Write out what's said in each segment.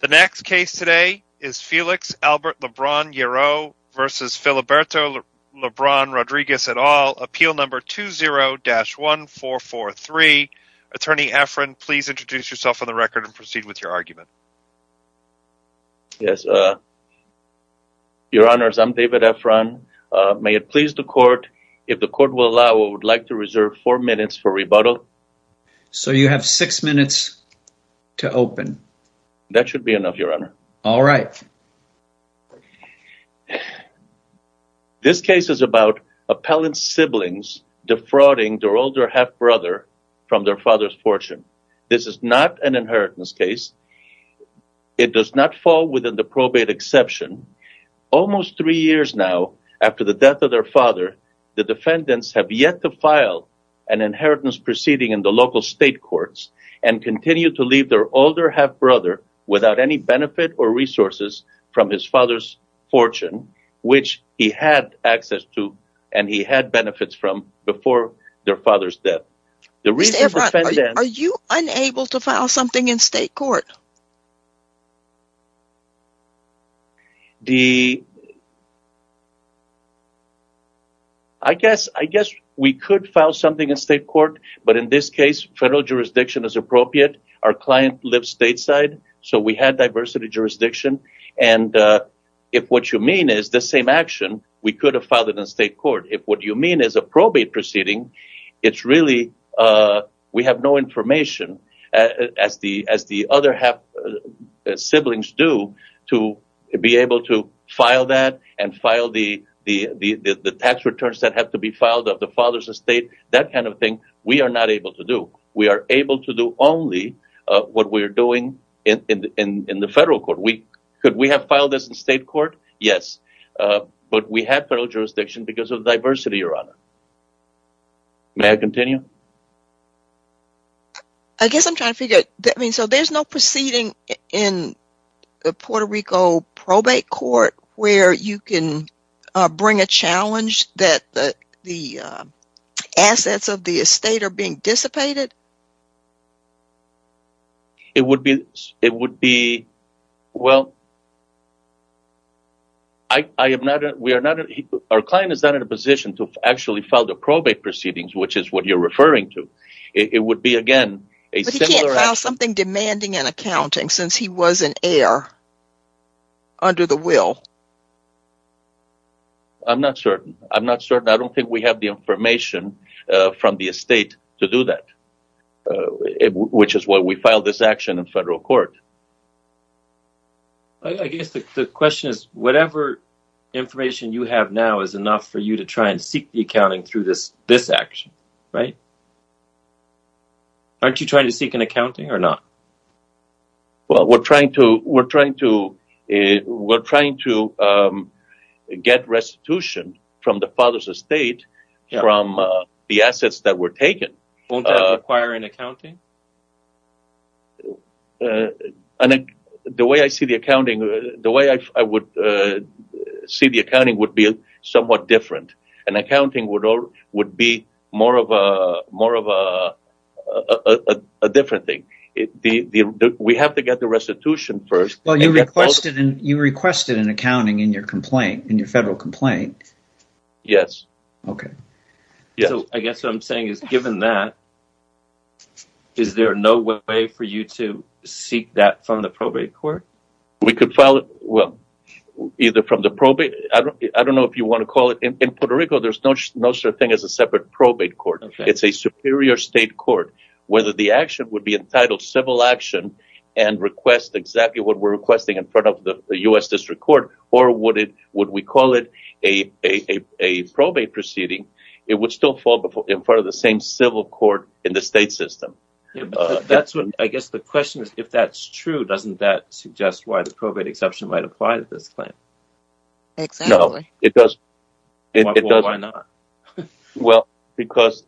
The next case today is Felix Albert Lebron-Yero v. Filiberto Lebron-Rodriguez et al, appeal number 20-1443. Attorney Efron, please introduce yourself on the record and proceed with your argument. Yes, your honors, I'm David Efron. May it please the court, if the court will allow, I would like to reserve four minutes for rebuttal. So you have six minutes to open. That should be enough, your honor. All right. This case is about appellant siblings defrauding their older half-brother from their father's fortune. This is not an inheritance case. It does not fall within the probate exception. Almost three years now after the death of their father, the defendants have yet to file an inheritance proceeding in the local state courts and continue to leave their older half-brother without any benefit or resources from his father's fortune, which he had access to and he had benefits from before their father's death. Mr. Efron, are you unable to file something in state court? I guess we could file something in state court, but in this case, federal jurisdiction is appropriate. Our client lives stateside, so we had diversity jurisdiction. And if what you mean is the same action, we could have filed it in state court. If what you mean is a probate proceeding, it's really we have no information, as the other half-siblings do, to be able to file that and file the tax returns that have to be filed of the father's estate, that kind of thing we are not able to do. We are able to do only what we're doing in the federal court. Could we have filed this in state court? Yes. But we have federal jurisdiction because of diversity, your honor. May I continue? I guess I'm trying to figure out, I mean, so there's no proceeding in the Puerto Rico probate court where you can bring a challenge that the assets of the estate are being dissipated? It would be, well, I am not, we are not, our client is not in a position to actually file the probate proceedings, which is what you're referring to. It would be, again, a similar action. But he can't file something demanding an accounting since he was an heir under the will. I'm not certain. I'm not certain. I don't think we have the information from the estate to do that, which is why we filed this action in federal court. I guess the question is, whatever information you have now is enough for you to try and seek the accounting through this action, right? Aren't you trying to seek an accounting or not? Well, we're trying to get restitution from the father's estate from the assets that were taken. Won't that require an accounting? And the way I see the accounting, the way I would see the accounting would be somewhat different. And accounting would be more of a different thing. We have to get the restitution first. Well, you requested an accounting in your complaint, in your federal complaint. Yes. Okay. I guess what I'm saying is, given that, is there no way for you to seek that from the probate court? We could file it, well, either from the probate. I don't know if you want to call it. In Puerto Rico, there's no such thing as a separate probate court. It's a superior state court. Whether the action would be entitled civil action and request exactly what we're requesting in front of the U.S. District Court, or would we call it a probate proceeding, it would still fall in front of the same civil court in the state system. I guess the question is, if that's true, doesn't that suggest why the probate exception might apply to this claim? Exactly. Well, because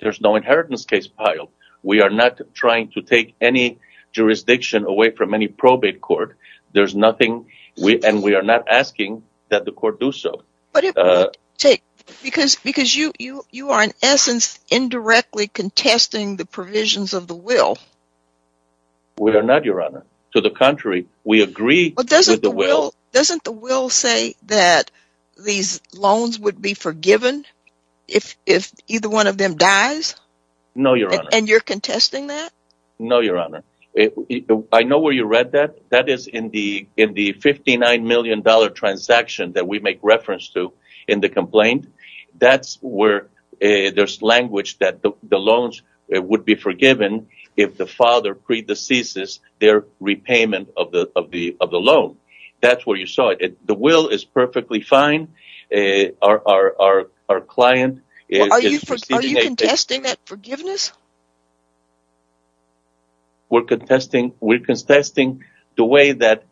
there's no inheritance case filed. We are not trying to take any jurisdiction away from any probate court. There's nothing, and we are not asking that the court do so. Because you are, in essence, indirectly contesting the provisions of the will. We are not, Your Honor. To the contrary, we agree with the will. Doesn't the will say that these loans would be forgiven if either one of them dies? No, Your Honor. And you're contesting that? No, Your Honor. I know where you read that. That is in the $59 million transaction that we make reference to in the complaint. That's where there's language that the loans would be forgiven if the father predeceases their repayment of the loan. That's where you saw it. The will is perfectly fine. Our client is... Are you contesting that forgiveness? We're contesting the way that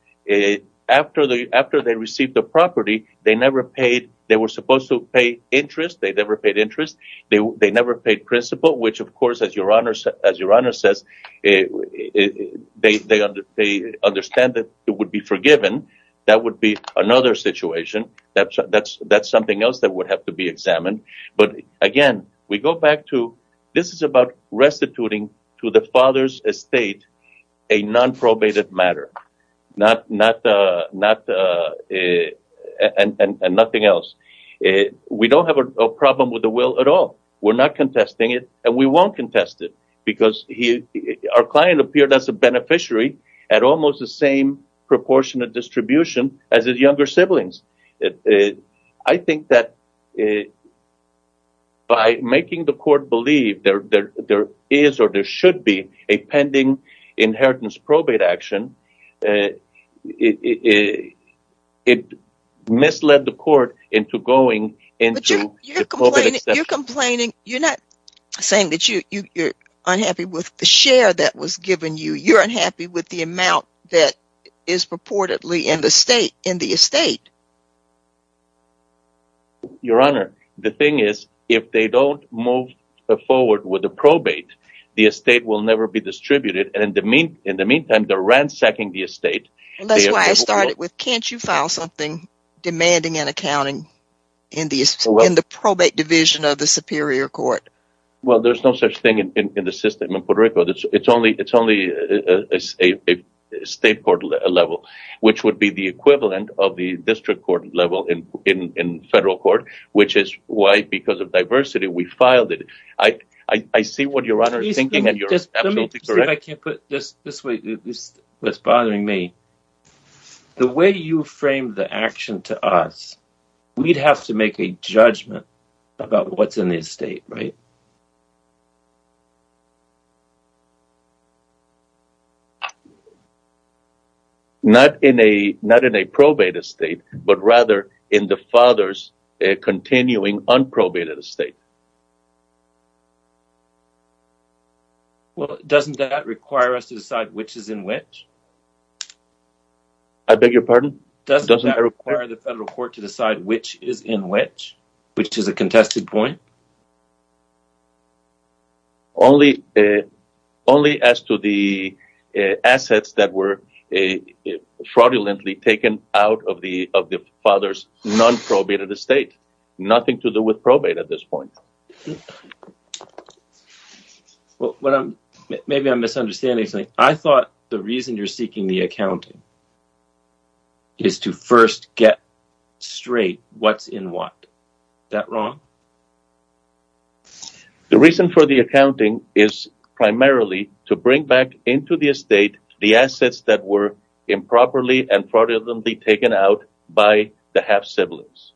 after they received the property, they never paid. They were supposed to pay interest. They never paid interest. They never paid principal, which, of course, as Your Honor says, they understand that it would be forgiven. That would be another situation. That's something else that would have to be examined. But again, this is about restituting to the father's estate a non-probated matter and nothing else. We don't have a problem with the will at all. We're not contesting it, and we won't contest it because our client appeared as a beneficiary at almost the same distribution as his younger siblings. I think that by making the court believe there is or there should be a pending inheritance probate action, it misled the court into going into... But you're complaining. You're not saying that you're unhappy with the share that was given you. You're unhappy with the amount that is purportedly in the estate. Your Honor, the thing is, if they don't move forward with the probate, the estate will never be distributed, and in the meantime, they're ransacking the estate. That's why I started with, can't you file something demanding an accounting in the probate division of the Superior Court? Well, there's no such thing in the system in Puerto Rico. It's only a state court level, which would be the equivalent of the district court level in federal court, which is why, because of diversity, we filed it. I see what Your Honor is thinking, and you're absolutely correct. The way you framed the action to us, we'd have to make a judgment about what's in the estate, right? Not in a probate estate, but rather in the father's continuing unprobated estate. Well, doesn't that require us to decide which is in which? I beg your pardon? Doesn't that require the federal court to decide which is in which, which is a contested point? Only as to the assets that were fraudulently taken out of the father's non-probated estate. Nothing to do with probate at this point. Well, maybe I'm misunderstanding something. I thought the reason you're seeking the accounting is to first get straight what's in what. Is that wrong? The reason for the accounting is primarily to bring back into the estate the assets that were improperly and fraudulently taken out by the half-siblings,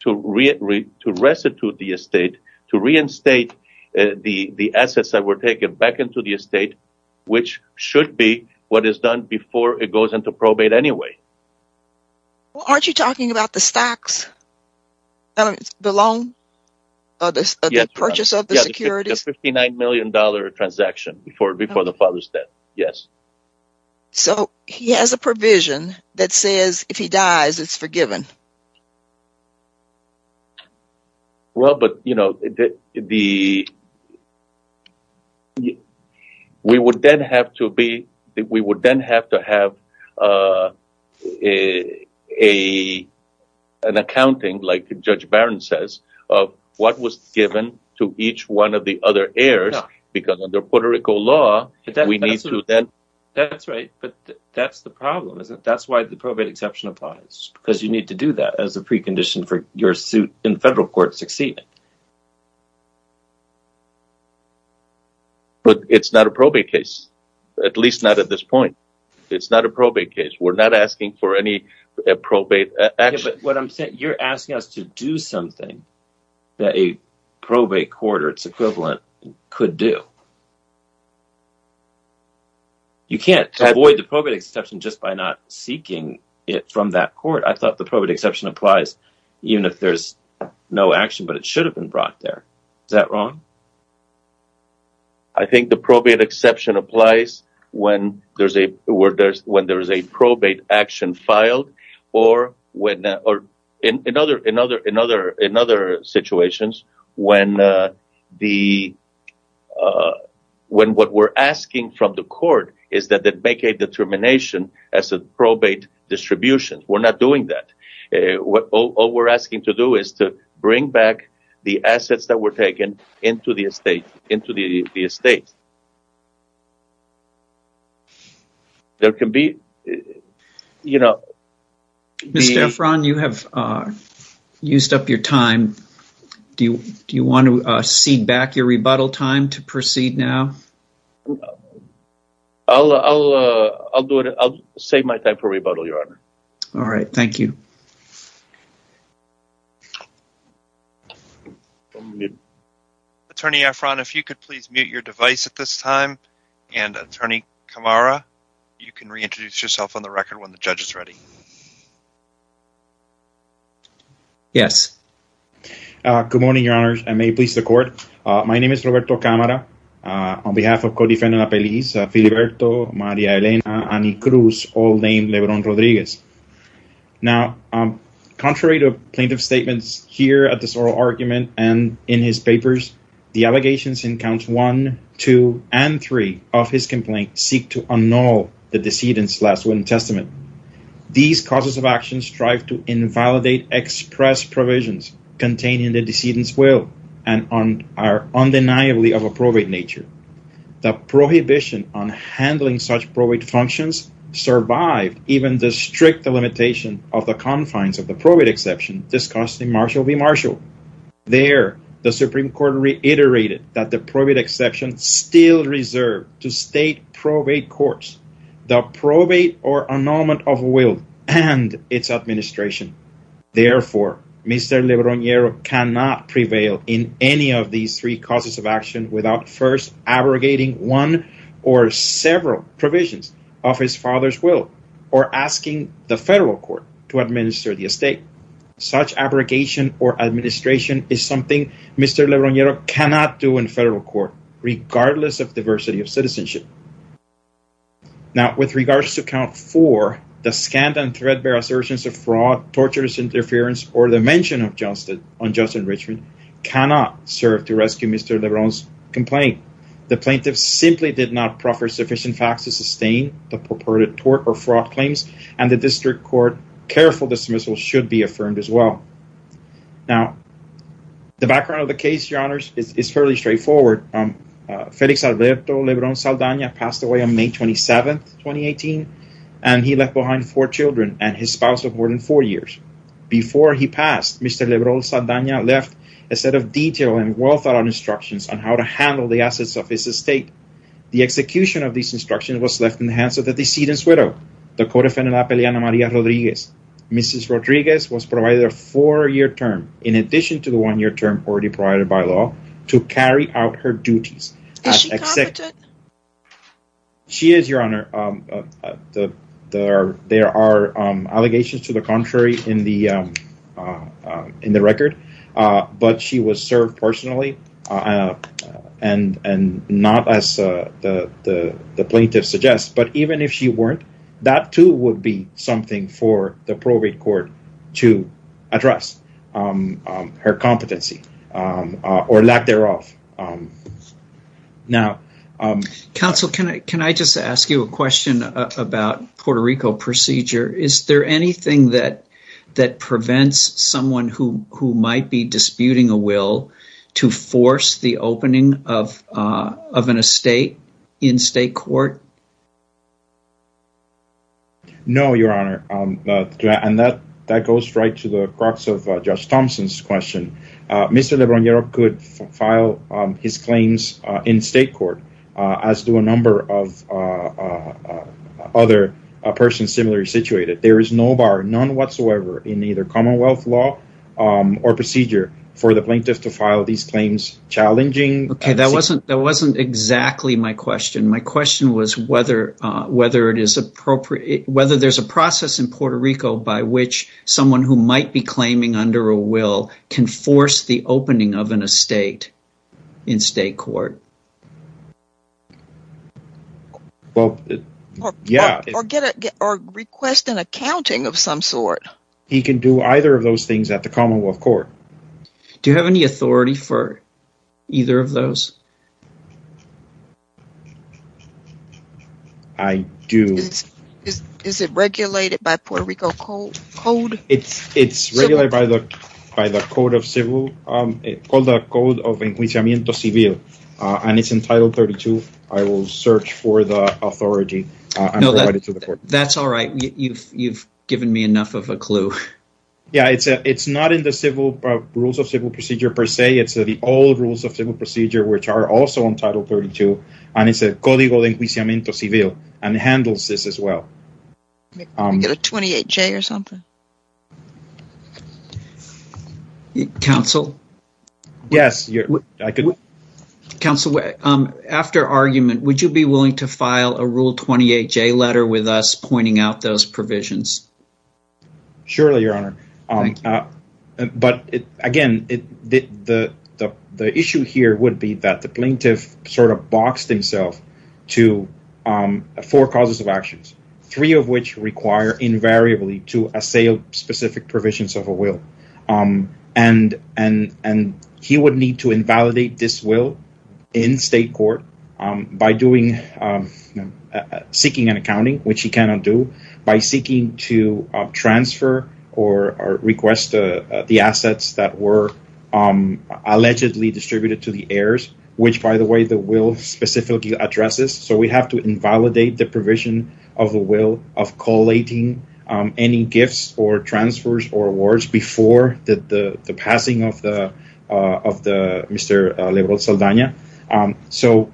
to restitute the estate, to reinstate the assets that were taken back into the estate, which should be what is done before goes into probate anyway. Well, aren't you talking about the stocks? The loan? The purchase of the securities? Yes, the $59 million transaction before the father's death. Yes. So, he has a provision that says if he dies, it's forgiven. Well, but, you know, we would then have to have an accounting, like Judge Barron says, of what was given to each one of the other heirs, because under Puerto Rico law, we need to then... That's right, but that's the problem, isn't it? That's why the probate exception applies, because you need to do that as a precondition for your suit in federal court succeeding. But it's not a probate case, at least not at this point. It's not a probate case. We're not asking for any probate action. But what I'm saying, you're asking us to do something that a probate court or its equivalent could do. You can't avoid the probate exception just by not seeking it from that court. I thought the probate exception applies even if there's no action, but it should have been brought there. Is that wrong? I think the probate exception applies when there's a probate action filed or in other situations when what we're asking from the court is that they make a determination as a probate distribution. We're not doing that. All we're asking to do is to bring back the assets that were taken into the estate. Mr. Efron, you have used up your time. Do you want to cede back your rebuttal time to proceed now? I'll do it. I'll save my time for rebuttal, Your Honor. All right. Thank you. Attorney Efron, if you could please mute your device at this time. And Attorney Camara, you can reintroduce yourself on the record when the judge is ready. Yes. Good morning, Your Honor. I may please the court. My name is Roberto Camara. On behalf of Code Defendant Apeliz, Filiberto, Maria Elena, Annie Cruz, all named Lebron Rodriguez. Now, contrary to plaintiff's statements here at this oral argument and in his papers, the allegations in Counts 1, 2, and 3 of his complaint seek to annul the decedent's last will and testament. These causes of action strive to invalidate express provisions containing the decedent's will and are undeniably of a probate nature. The prohibition on handling such probate functions survived even the strict delimitation of the confines of the probate exception discussed in Marshall v. Marshall. There, the Supreme Court reiterated that the probate exception still reserved to state probate courts, the probate or annulment of will and its administration. Therefore, Mr. Lebron-Guerra cannot prevail in any of these three causes of action without first abrogating one or several provisions of his father's will or asking the federal court to administer the estate. Such abrogation or administration is something Mr. Lebron-Guerra cannot do in federal court regardless of diversity of citizenship. Now, with regards to Count 4, the scant and threadbare assertions of fraud, torturous interference, or the mention of justice on just enrichment cannot serve to rescue Mr. Lebron's claim. The plaintiff simply did not proffer sufficient facts to sustain the purported tort or fraud claims, and the district court careful dismissal should be affirmed as well. Now, the background of the case, Your Honors, is fairly straightforward. Felix Alberto Lebron-Saldana passed away on May 27, 2018, and he left behind four children and his spouse of more than four years. Before he passed, Mr. Lebron-Saldana left a set of detailed and well-thought-out instructions on how to handle the assets of his estate. The execution of these instructions was left in the hands of the decedent's widow, the Codefendant Apeliana Maria Rodriguez. Mrs. Rodriguez was provided a four-year term, in addition to the one-year term already provided by law, to carry out her duties. Is she competent? She is, Your Honor. There are allegations to the contrary in the record, but she was served personally, and not as the plaintiff suggests, but even if she weren't, that too would be something for the probate court to address her competency or lack thereof. Counsel, can I just ask you a question about Puerto Rico procedure? Is there anything that prevents someone who might be disputing a will to force the opening of an estate in state court? No, Your Honor, and that goes right to the crux of Judge Thompson's question. Mr. Lebron-Saldana could file his claims in state court, as do a number of other persons similarly situated. There is no bar, none whatsoever, in either commonwealth law or procedure for the plaintiff to file these claims challenging... Okay, that wasn't exactly my question. My question was, whether there's a process in Puerto Rico by which someone who might be claiming under a will can force the opening of an estate in state court? Well, yeah. Or request an accounting of some sort. He can do either of those things at the commonwealth court. I do. Is it regulated by Puerto Rico code? It's regulated by the Code of Inquisimiento Civil, and it's in Title 32. I will search for the authority and provide it to the court. That's all right. You've given me enough of a clue. Yeah, it's not in the rules of civil procedure per se. It's the old rules of civil procedure, which are also in Title 32, and it's the Code of Inquisimiento Civil, and it handles this as well. Can I get a 28-J or something? Counsel? Yes. Counsel, after argument, would you be willing to file a Rule 28-J letter with us pointing out those provisions? Surely, Your Honor. But again, the issue here would be that the plaintiff sort of boxed himself to four causes of actions, three of which require invariably to assail specific provisions of a will. And he would need to invalidate this will in state court by seeking an accounting, which he cannot do, by seeking to transfer or request the assets that were allegedly distributed to the heirs, which, by the way, the will specifically addresses. So we have to invalidate the provision of the will of collating any gifts or transfers or awards before the passing of Mr. Lebron Saldana. So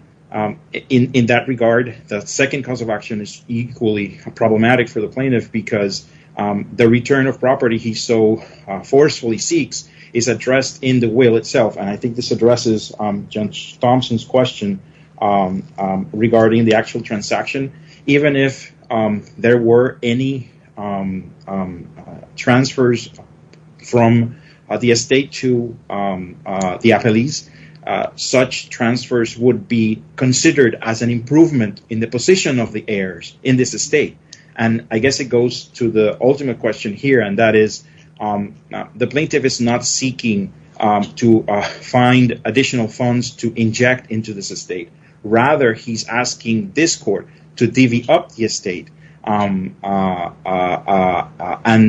in that regard, the second cause of action is equally problematic for the plaintiff because the return of property he so forcefully seeks is addressed in the will itself. And I think this addresses Judge Thomson's question regarding the actual transaction. Even if there were any transfers from the estate to the appellees, such transfers would be considered as an improvement in the position of the heirs in this estate. And I guess it goes to the ultimate question here, and that is the plaintiff is not seeking to find additional funds to inject into this estate. Rather, he's asking this court to divvy up the estate and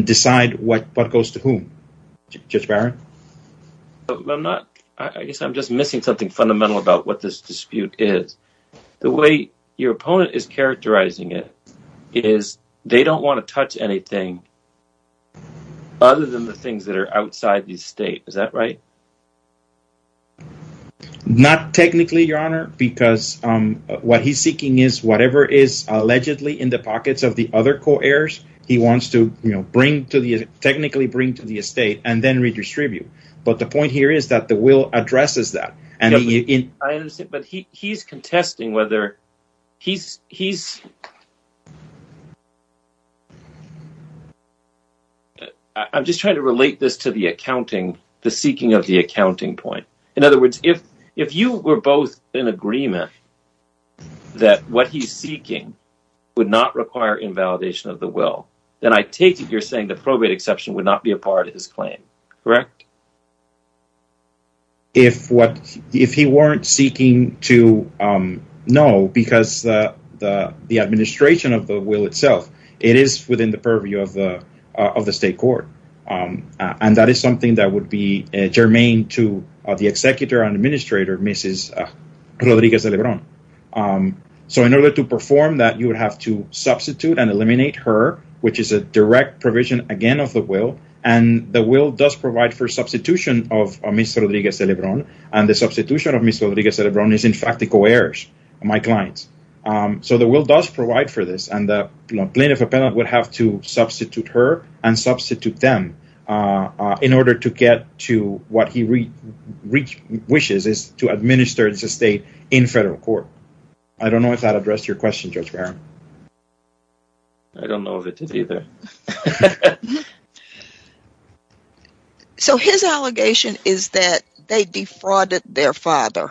decide what goes to whom. Judge Barron? I guess I'm just missing something fundamental about what this dispute is. The way your opponent is characterizing it is they don't want to touch anything other than the things that are outside the estate. Is that right? Not technically, Your Honor, because what he's seeking is whatever is allegedly in the pockets of the other co-heirs, he wants to technically bring to the estate and then redistribute. But the point here is that the will addresses that. I'm just trying to relate this to the seeking of the accounting point. In other words, if you were both in agreement that what he's seeking would not require invalidation of the will, then I take it you're saying the probate exception would not be a part of his claim, correct? If he weren't seeking to, no, because the administration of the will itself, it is within the purview of the state court. And that is something that would be germane to the executor and administrator, Mrs. Rodriguez de Lebron. So in order to perform that, you would have to substitute and eliminate her, which is a direct provision, again, of the will. And the will does provide for substitution of Ms. Rodriguez de Lebron. And the substitution of Ms. Rodriguez de Lebron is, in fact, the co-heirs, my clients. So the will does provide for this. And the plaintiff appellant would have to wishes is to administer the state in federal court. I don't know if that addressed your question, Judge Barron. I don't know of it either. So his allegation is that they defrauded their father.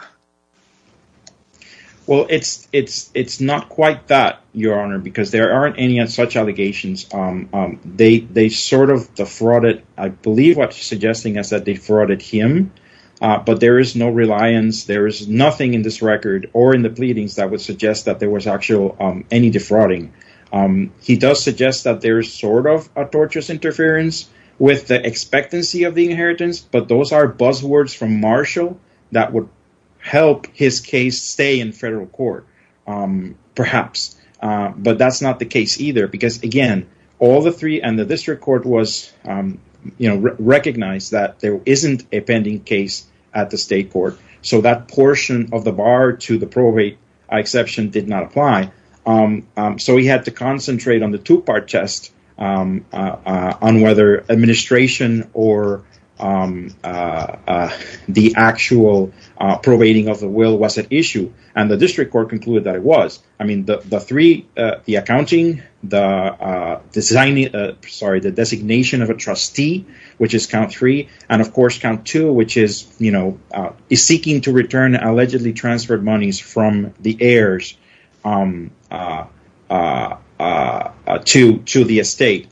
Well, it's not quite that, Your Honor, because there aren't any such allegations. They sort of defrauded, I believe what you're suggesting is that they defrauded him. But there is no reliance. There is nothing in this record or in the pleadings that would suggest that there was actually any defrauding. He does suggest that there is sort of a torturous interference with the expectancy of the inheritance. But those are buzzwords from Marshall that would help his case stay in federal court, perhaps. But that's not the case either, because, again, all the three and the district court was recognized that there isn't a pending case at the state court. So that portion of the bar to the probate exception did not apply. So we had to concentrate on the two part test on whether administration or the actual probating of the will was an issue. And the district court concluded that it was. I mean, the three, the accounting, the design, sorry, the designation of a trustee, which is count three, and of course, count two, which is, you know, is seeking to return allegedly transferred monies from the heirs to the estate,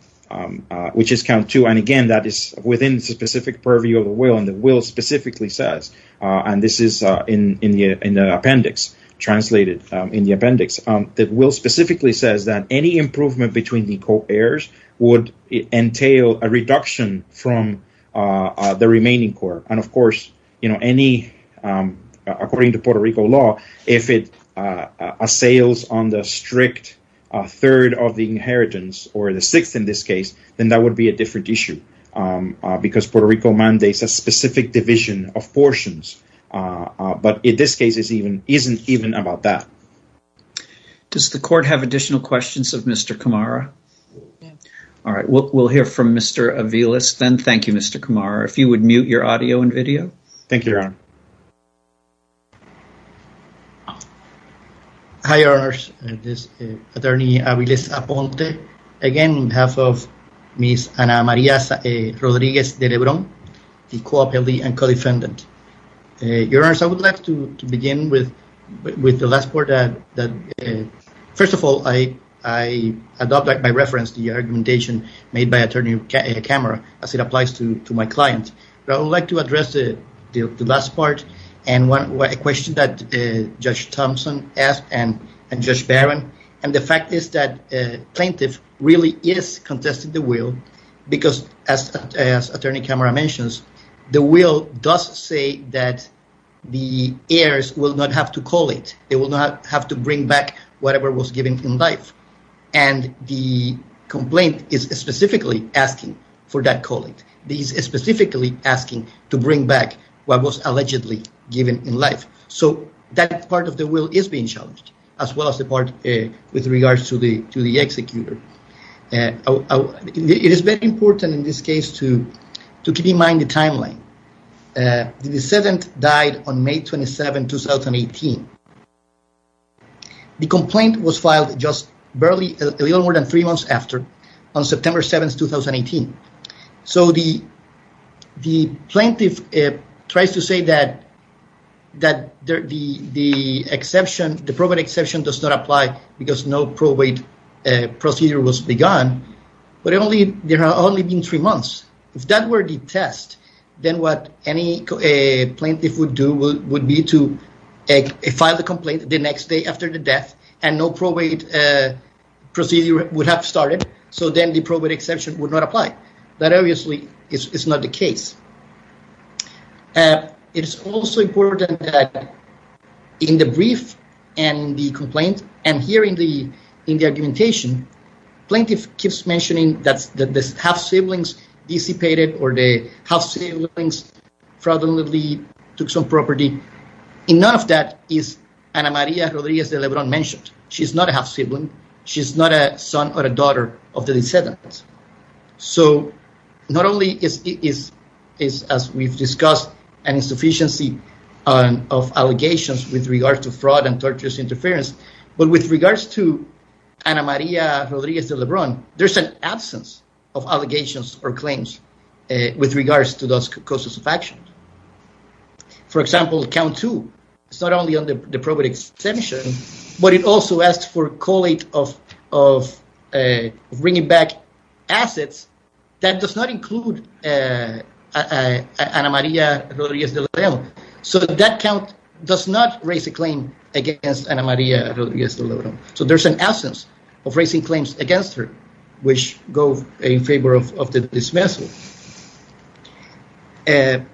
which is count two. And again, that is within the specific purview of the will. And the will specifically says, and this is in the appendix translated in the appendix, will specifically says that any improvement between the co-heirs would entail a reduction from the remaining court. And of course, you know, any according to Puerto Rico law, if it assails on the strict third of the inheritance or the sixth in this case, then that would be a different issue because Puerto Rico mandates a specific division of portions. But in this case is even, isn't even about that. Does the court have additional questions of Mr. Camara? All right, we'll hear from Mr. Aviles then. Thank you, Mr. Camara. If you would mute your audio and video. Thank you, Your Honor. Hi, Your Honors. This is attorney Aviles Aponte. Again, on behalf of Ms. Ana Maria Rodriguez the co-appellee and co-defendant. Your Honor, I would like to begin with the last part. First of all, I adopted by reference the argumentation made by attorney Camara as it applies to my client. But I would like to address the last part and one question that Judge Thompson asked and Judge Barron. And the fact is that plaintiff really is contesting the will because as attorney Camara mentions, the will does say that the heirs will not have to collate. They will not have to bring back whatever was given in life. And the complaint is specifically asking for that collate. These specifically asking to bring back what was allegedly given in life. So that part of the will is being challenged as well as the part with regards to the to the case to keep in mind the timeline. The decedent died on May 27, 2018. The complaint was filed just barely a little more than three months after on September 7, 2018. So the plaintiff tries to say that the exception, the probate exception does not apply because no probate procedure was begun. But only there are only been three months. If that were the test, then what any plaintiff would do would be to file the complaint the next day after the death and no probate procedure would have started. So then the probate exception would not apply. That obviously is not the case. It is also important that in the brief and the complaint and here in the in the argumentation, plaintiff keeps mentioning that the half-siblings dissipated or the half-siblings fraudulently took some property. In none of that is Ana Maria Rodriguez de Lebron mentioned. She's not a half-sibling. She's not a son or a daughter of the decedent. So not only is, as we've discussed, an insufficiency of allegations with regard to fraud and torturous interference, but with regards to Ana Maria Rodriguez de Lebron, there's an absence of allegations or claims with regards to those causes of action. For example, count two. It's not only on the probate exception, but it also asks for collate of bringing back assets that does not include Ana Maria Rodriguez de Lebron. So that count does not raise a claim against Ana Maria Rodriguez de Lebron. So there's an absence of raising claims against her which go in favor of the dismissal. And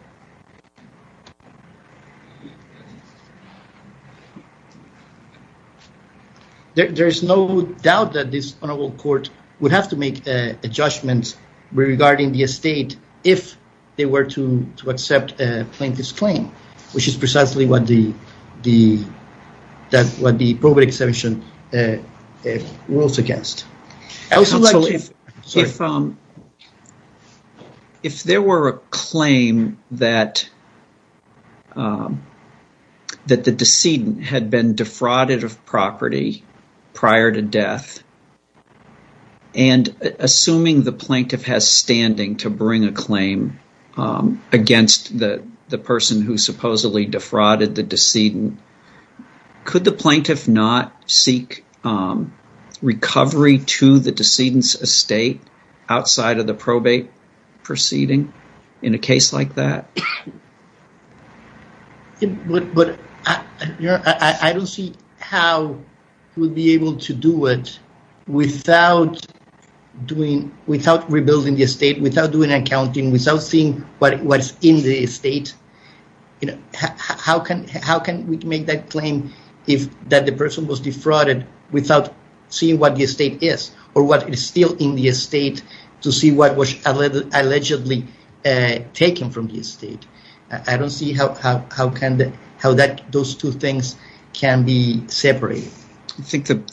there's no doubt that this honorable court would have to make a judgment regarding the estate if they were to accept a plaintiff's claim, which is precisely what the probate exception rules against. If there were a claim that the decedent had been defrauded of property prior to death, and assuming the plaintiff has standing to bring a claim against the person who supposedly defrauded the decedent, could the plaintiff not seek recovery to the decedent's estate outside of the probate proceeding in a case like that? But I don't see how we'll be able to do it without rebuilding the estate, without doing how can we make that claim that the person was defrauded without seeing what the estate is, or what is still in the estate to see what was allegedly taken from the estate. I don't see how those two things can be separated. I think that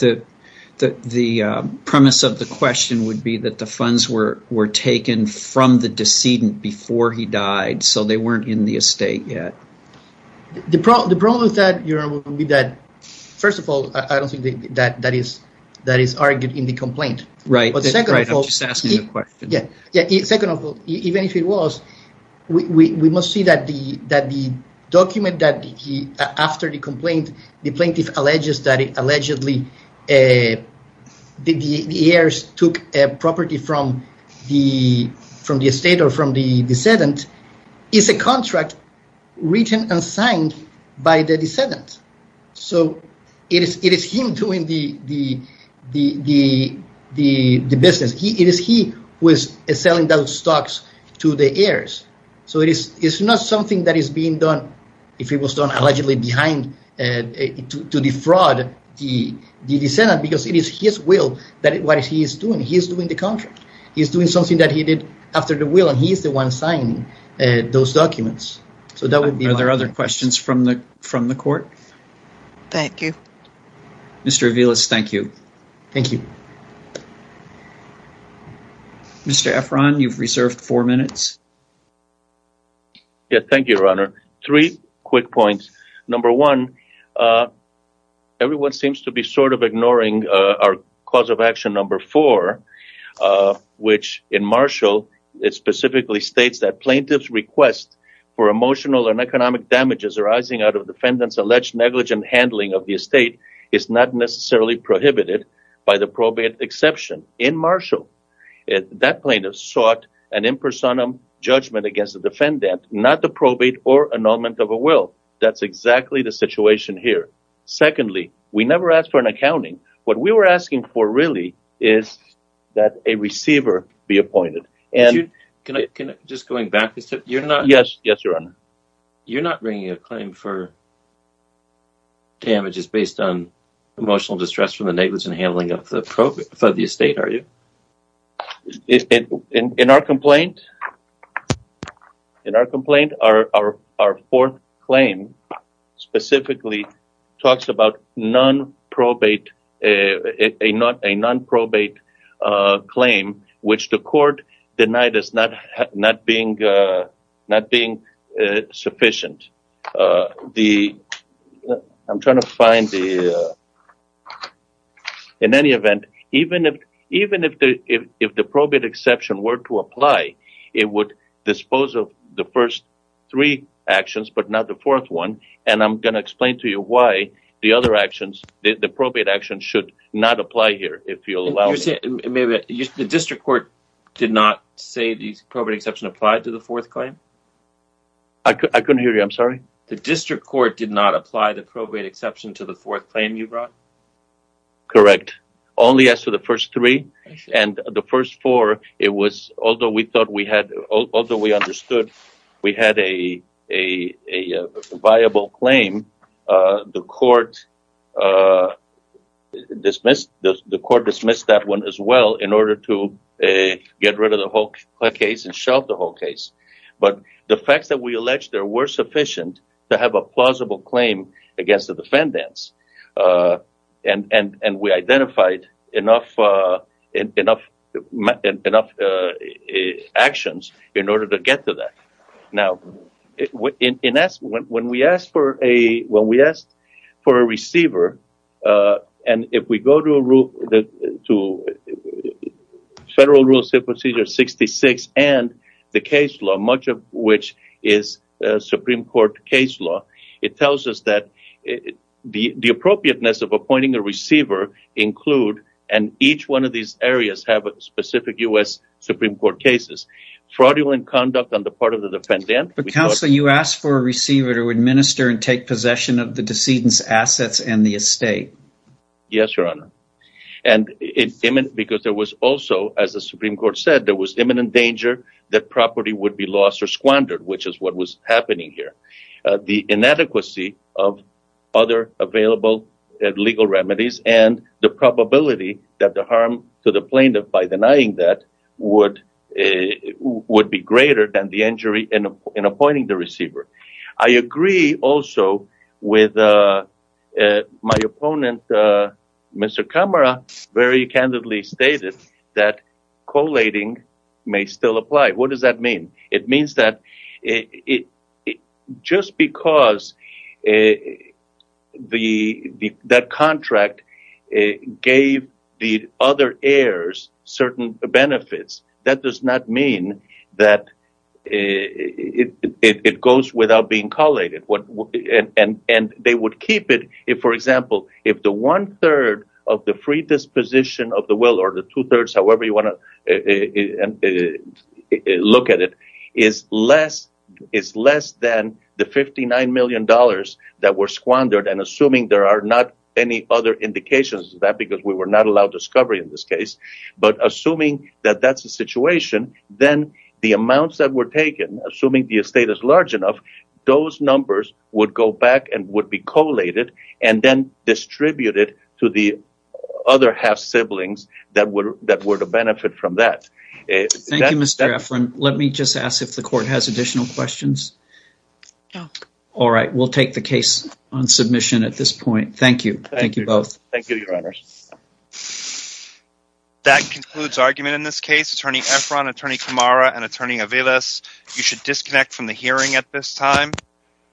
the premise of the question would be that the funds were taken from the decedent before he died, so they weren't in the estate yet. The problem with that would be that, first of all, I don't think that is argued in the complaint. Right, I'm just asking the question. Second of all, even if it was, we must see that the document that after the complaint, the plaintiff alleges that allegedly the heirs took property from the estate or from the decedent, is a contract written and signed by the decedent. So it is him doing the business. It is he who is selling those stocks to the heirs. So it is not something that is being done, if it was done allegedly behind, to defraud the decedent, because it is his will that what he is doing. He is doing the contract. He is doing something that he did after the will, and he is the one signing those documents. Are there other questions from the court? Thank you. Mr. Aviles, thank you. Mr. Efron, you've reserved four minutes. Yes, thank you, Your Honor. Three quick points. Number one, everyone seems to be sort of ignoring our cause of action number four, which in Marshall, it specifically states that plaintiff's request for emotional and economic damages arising out of defendant's alleged negligent handling of the estate is not necessarily prohibited by the probate exception. In Marshall, that plaintiff sought an impersonum judgment against the defendant, not the probate or annulment of a will. That's exactly the situation here. Secondly, we never asked for an accounting. What we were asking for really is that a receiver be appointed. Just going back, you're not bringing a claim for damages based on emotional distress from the negligent handling of the probate for the estate, are you? In our complaint, our fourth claim specifically talks about a non-probate claim, which the court denied as not being sufficient. In any event, even if the probate exception were to apply, it would dispose of the first three actions, but not the fourth one. I'm going to not say the probate exception applied to the fourth claim. I couldn't hear you. I'm sorry. The district court did not apply the probate exception to the fourth claim you brought? Correct. Only as to the first three, and the first four, although we understood we had a claim, the court dismissed that one as well in order to get rid of the whole case and shelve the whole case. The facts that we alleged there were sufficient to have a plausible claim against the defendants. We identified enough actions in order to get to that. When we asked for a receiver, and if we go to Federal Rules of Procedure 66 and the case law, much of which is Supreme Court case law, it tells us that the appropriateness of appointing a receiver includes, and each one of these areas have specific U.S. Supreme Court cases, fraudulent conduct on the part of the defendant. Counsel, you asked for a receiver to administer and take possession of the decedent's assets and the estate. Yes, Your Honor. As the Supreme Court said, there was imminent danger that property would be lost or squandered, which is what was happening here. The inadequacy of other available legal remedies and the probability that the harm to the plaintiff by denying that would be greater than the injury in appointing the receiver. I agree also with my opponent, Mr. Kamara, very candidly stated that collating may still apply. What does that mean? It means that just because that contract gave the other heirs certain benefits, that does not mean that it goes without being collated. For example, if the one-third of the free disposition of the estate is less than the $59 million that were squandered, and assuming there are not any other indications of that because we were not allowed discovery in this case, but assuming that that's the situation, then the amounts that were taken, assuming the estate is large enough, those numbers would go back and would be collated and then distributed to the other half-siblings that were to benefit from that. Thank you, Mr. Efron. Let me just ask if the court has additional questions. No. All right. We'll take the case on submission at this point. Thank you. Thank you both. Thank you, Your Honors. That concludes argument in this case. Attorney Efron, Attorney Kamara, and Attorney Aviles, you should disconnect from the hearing at this time.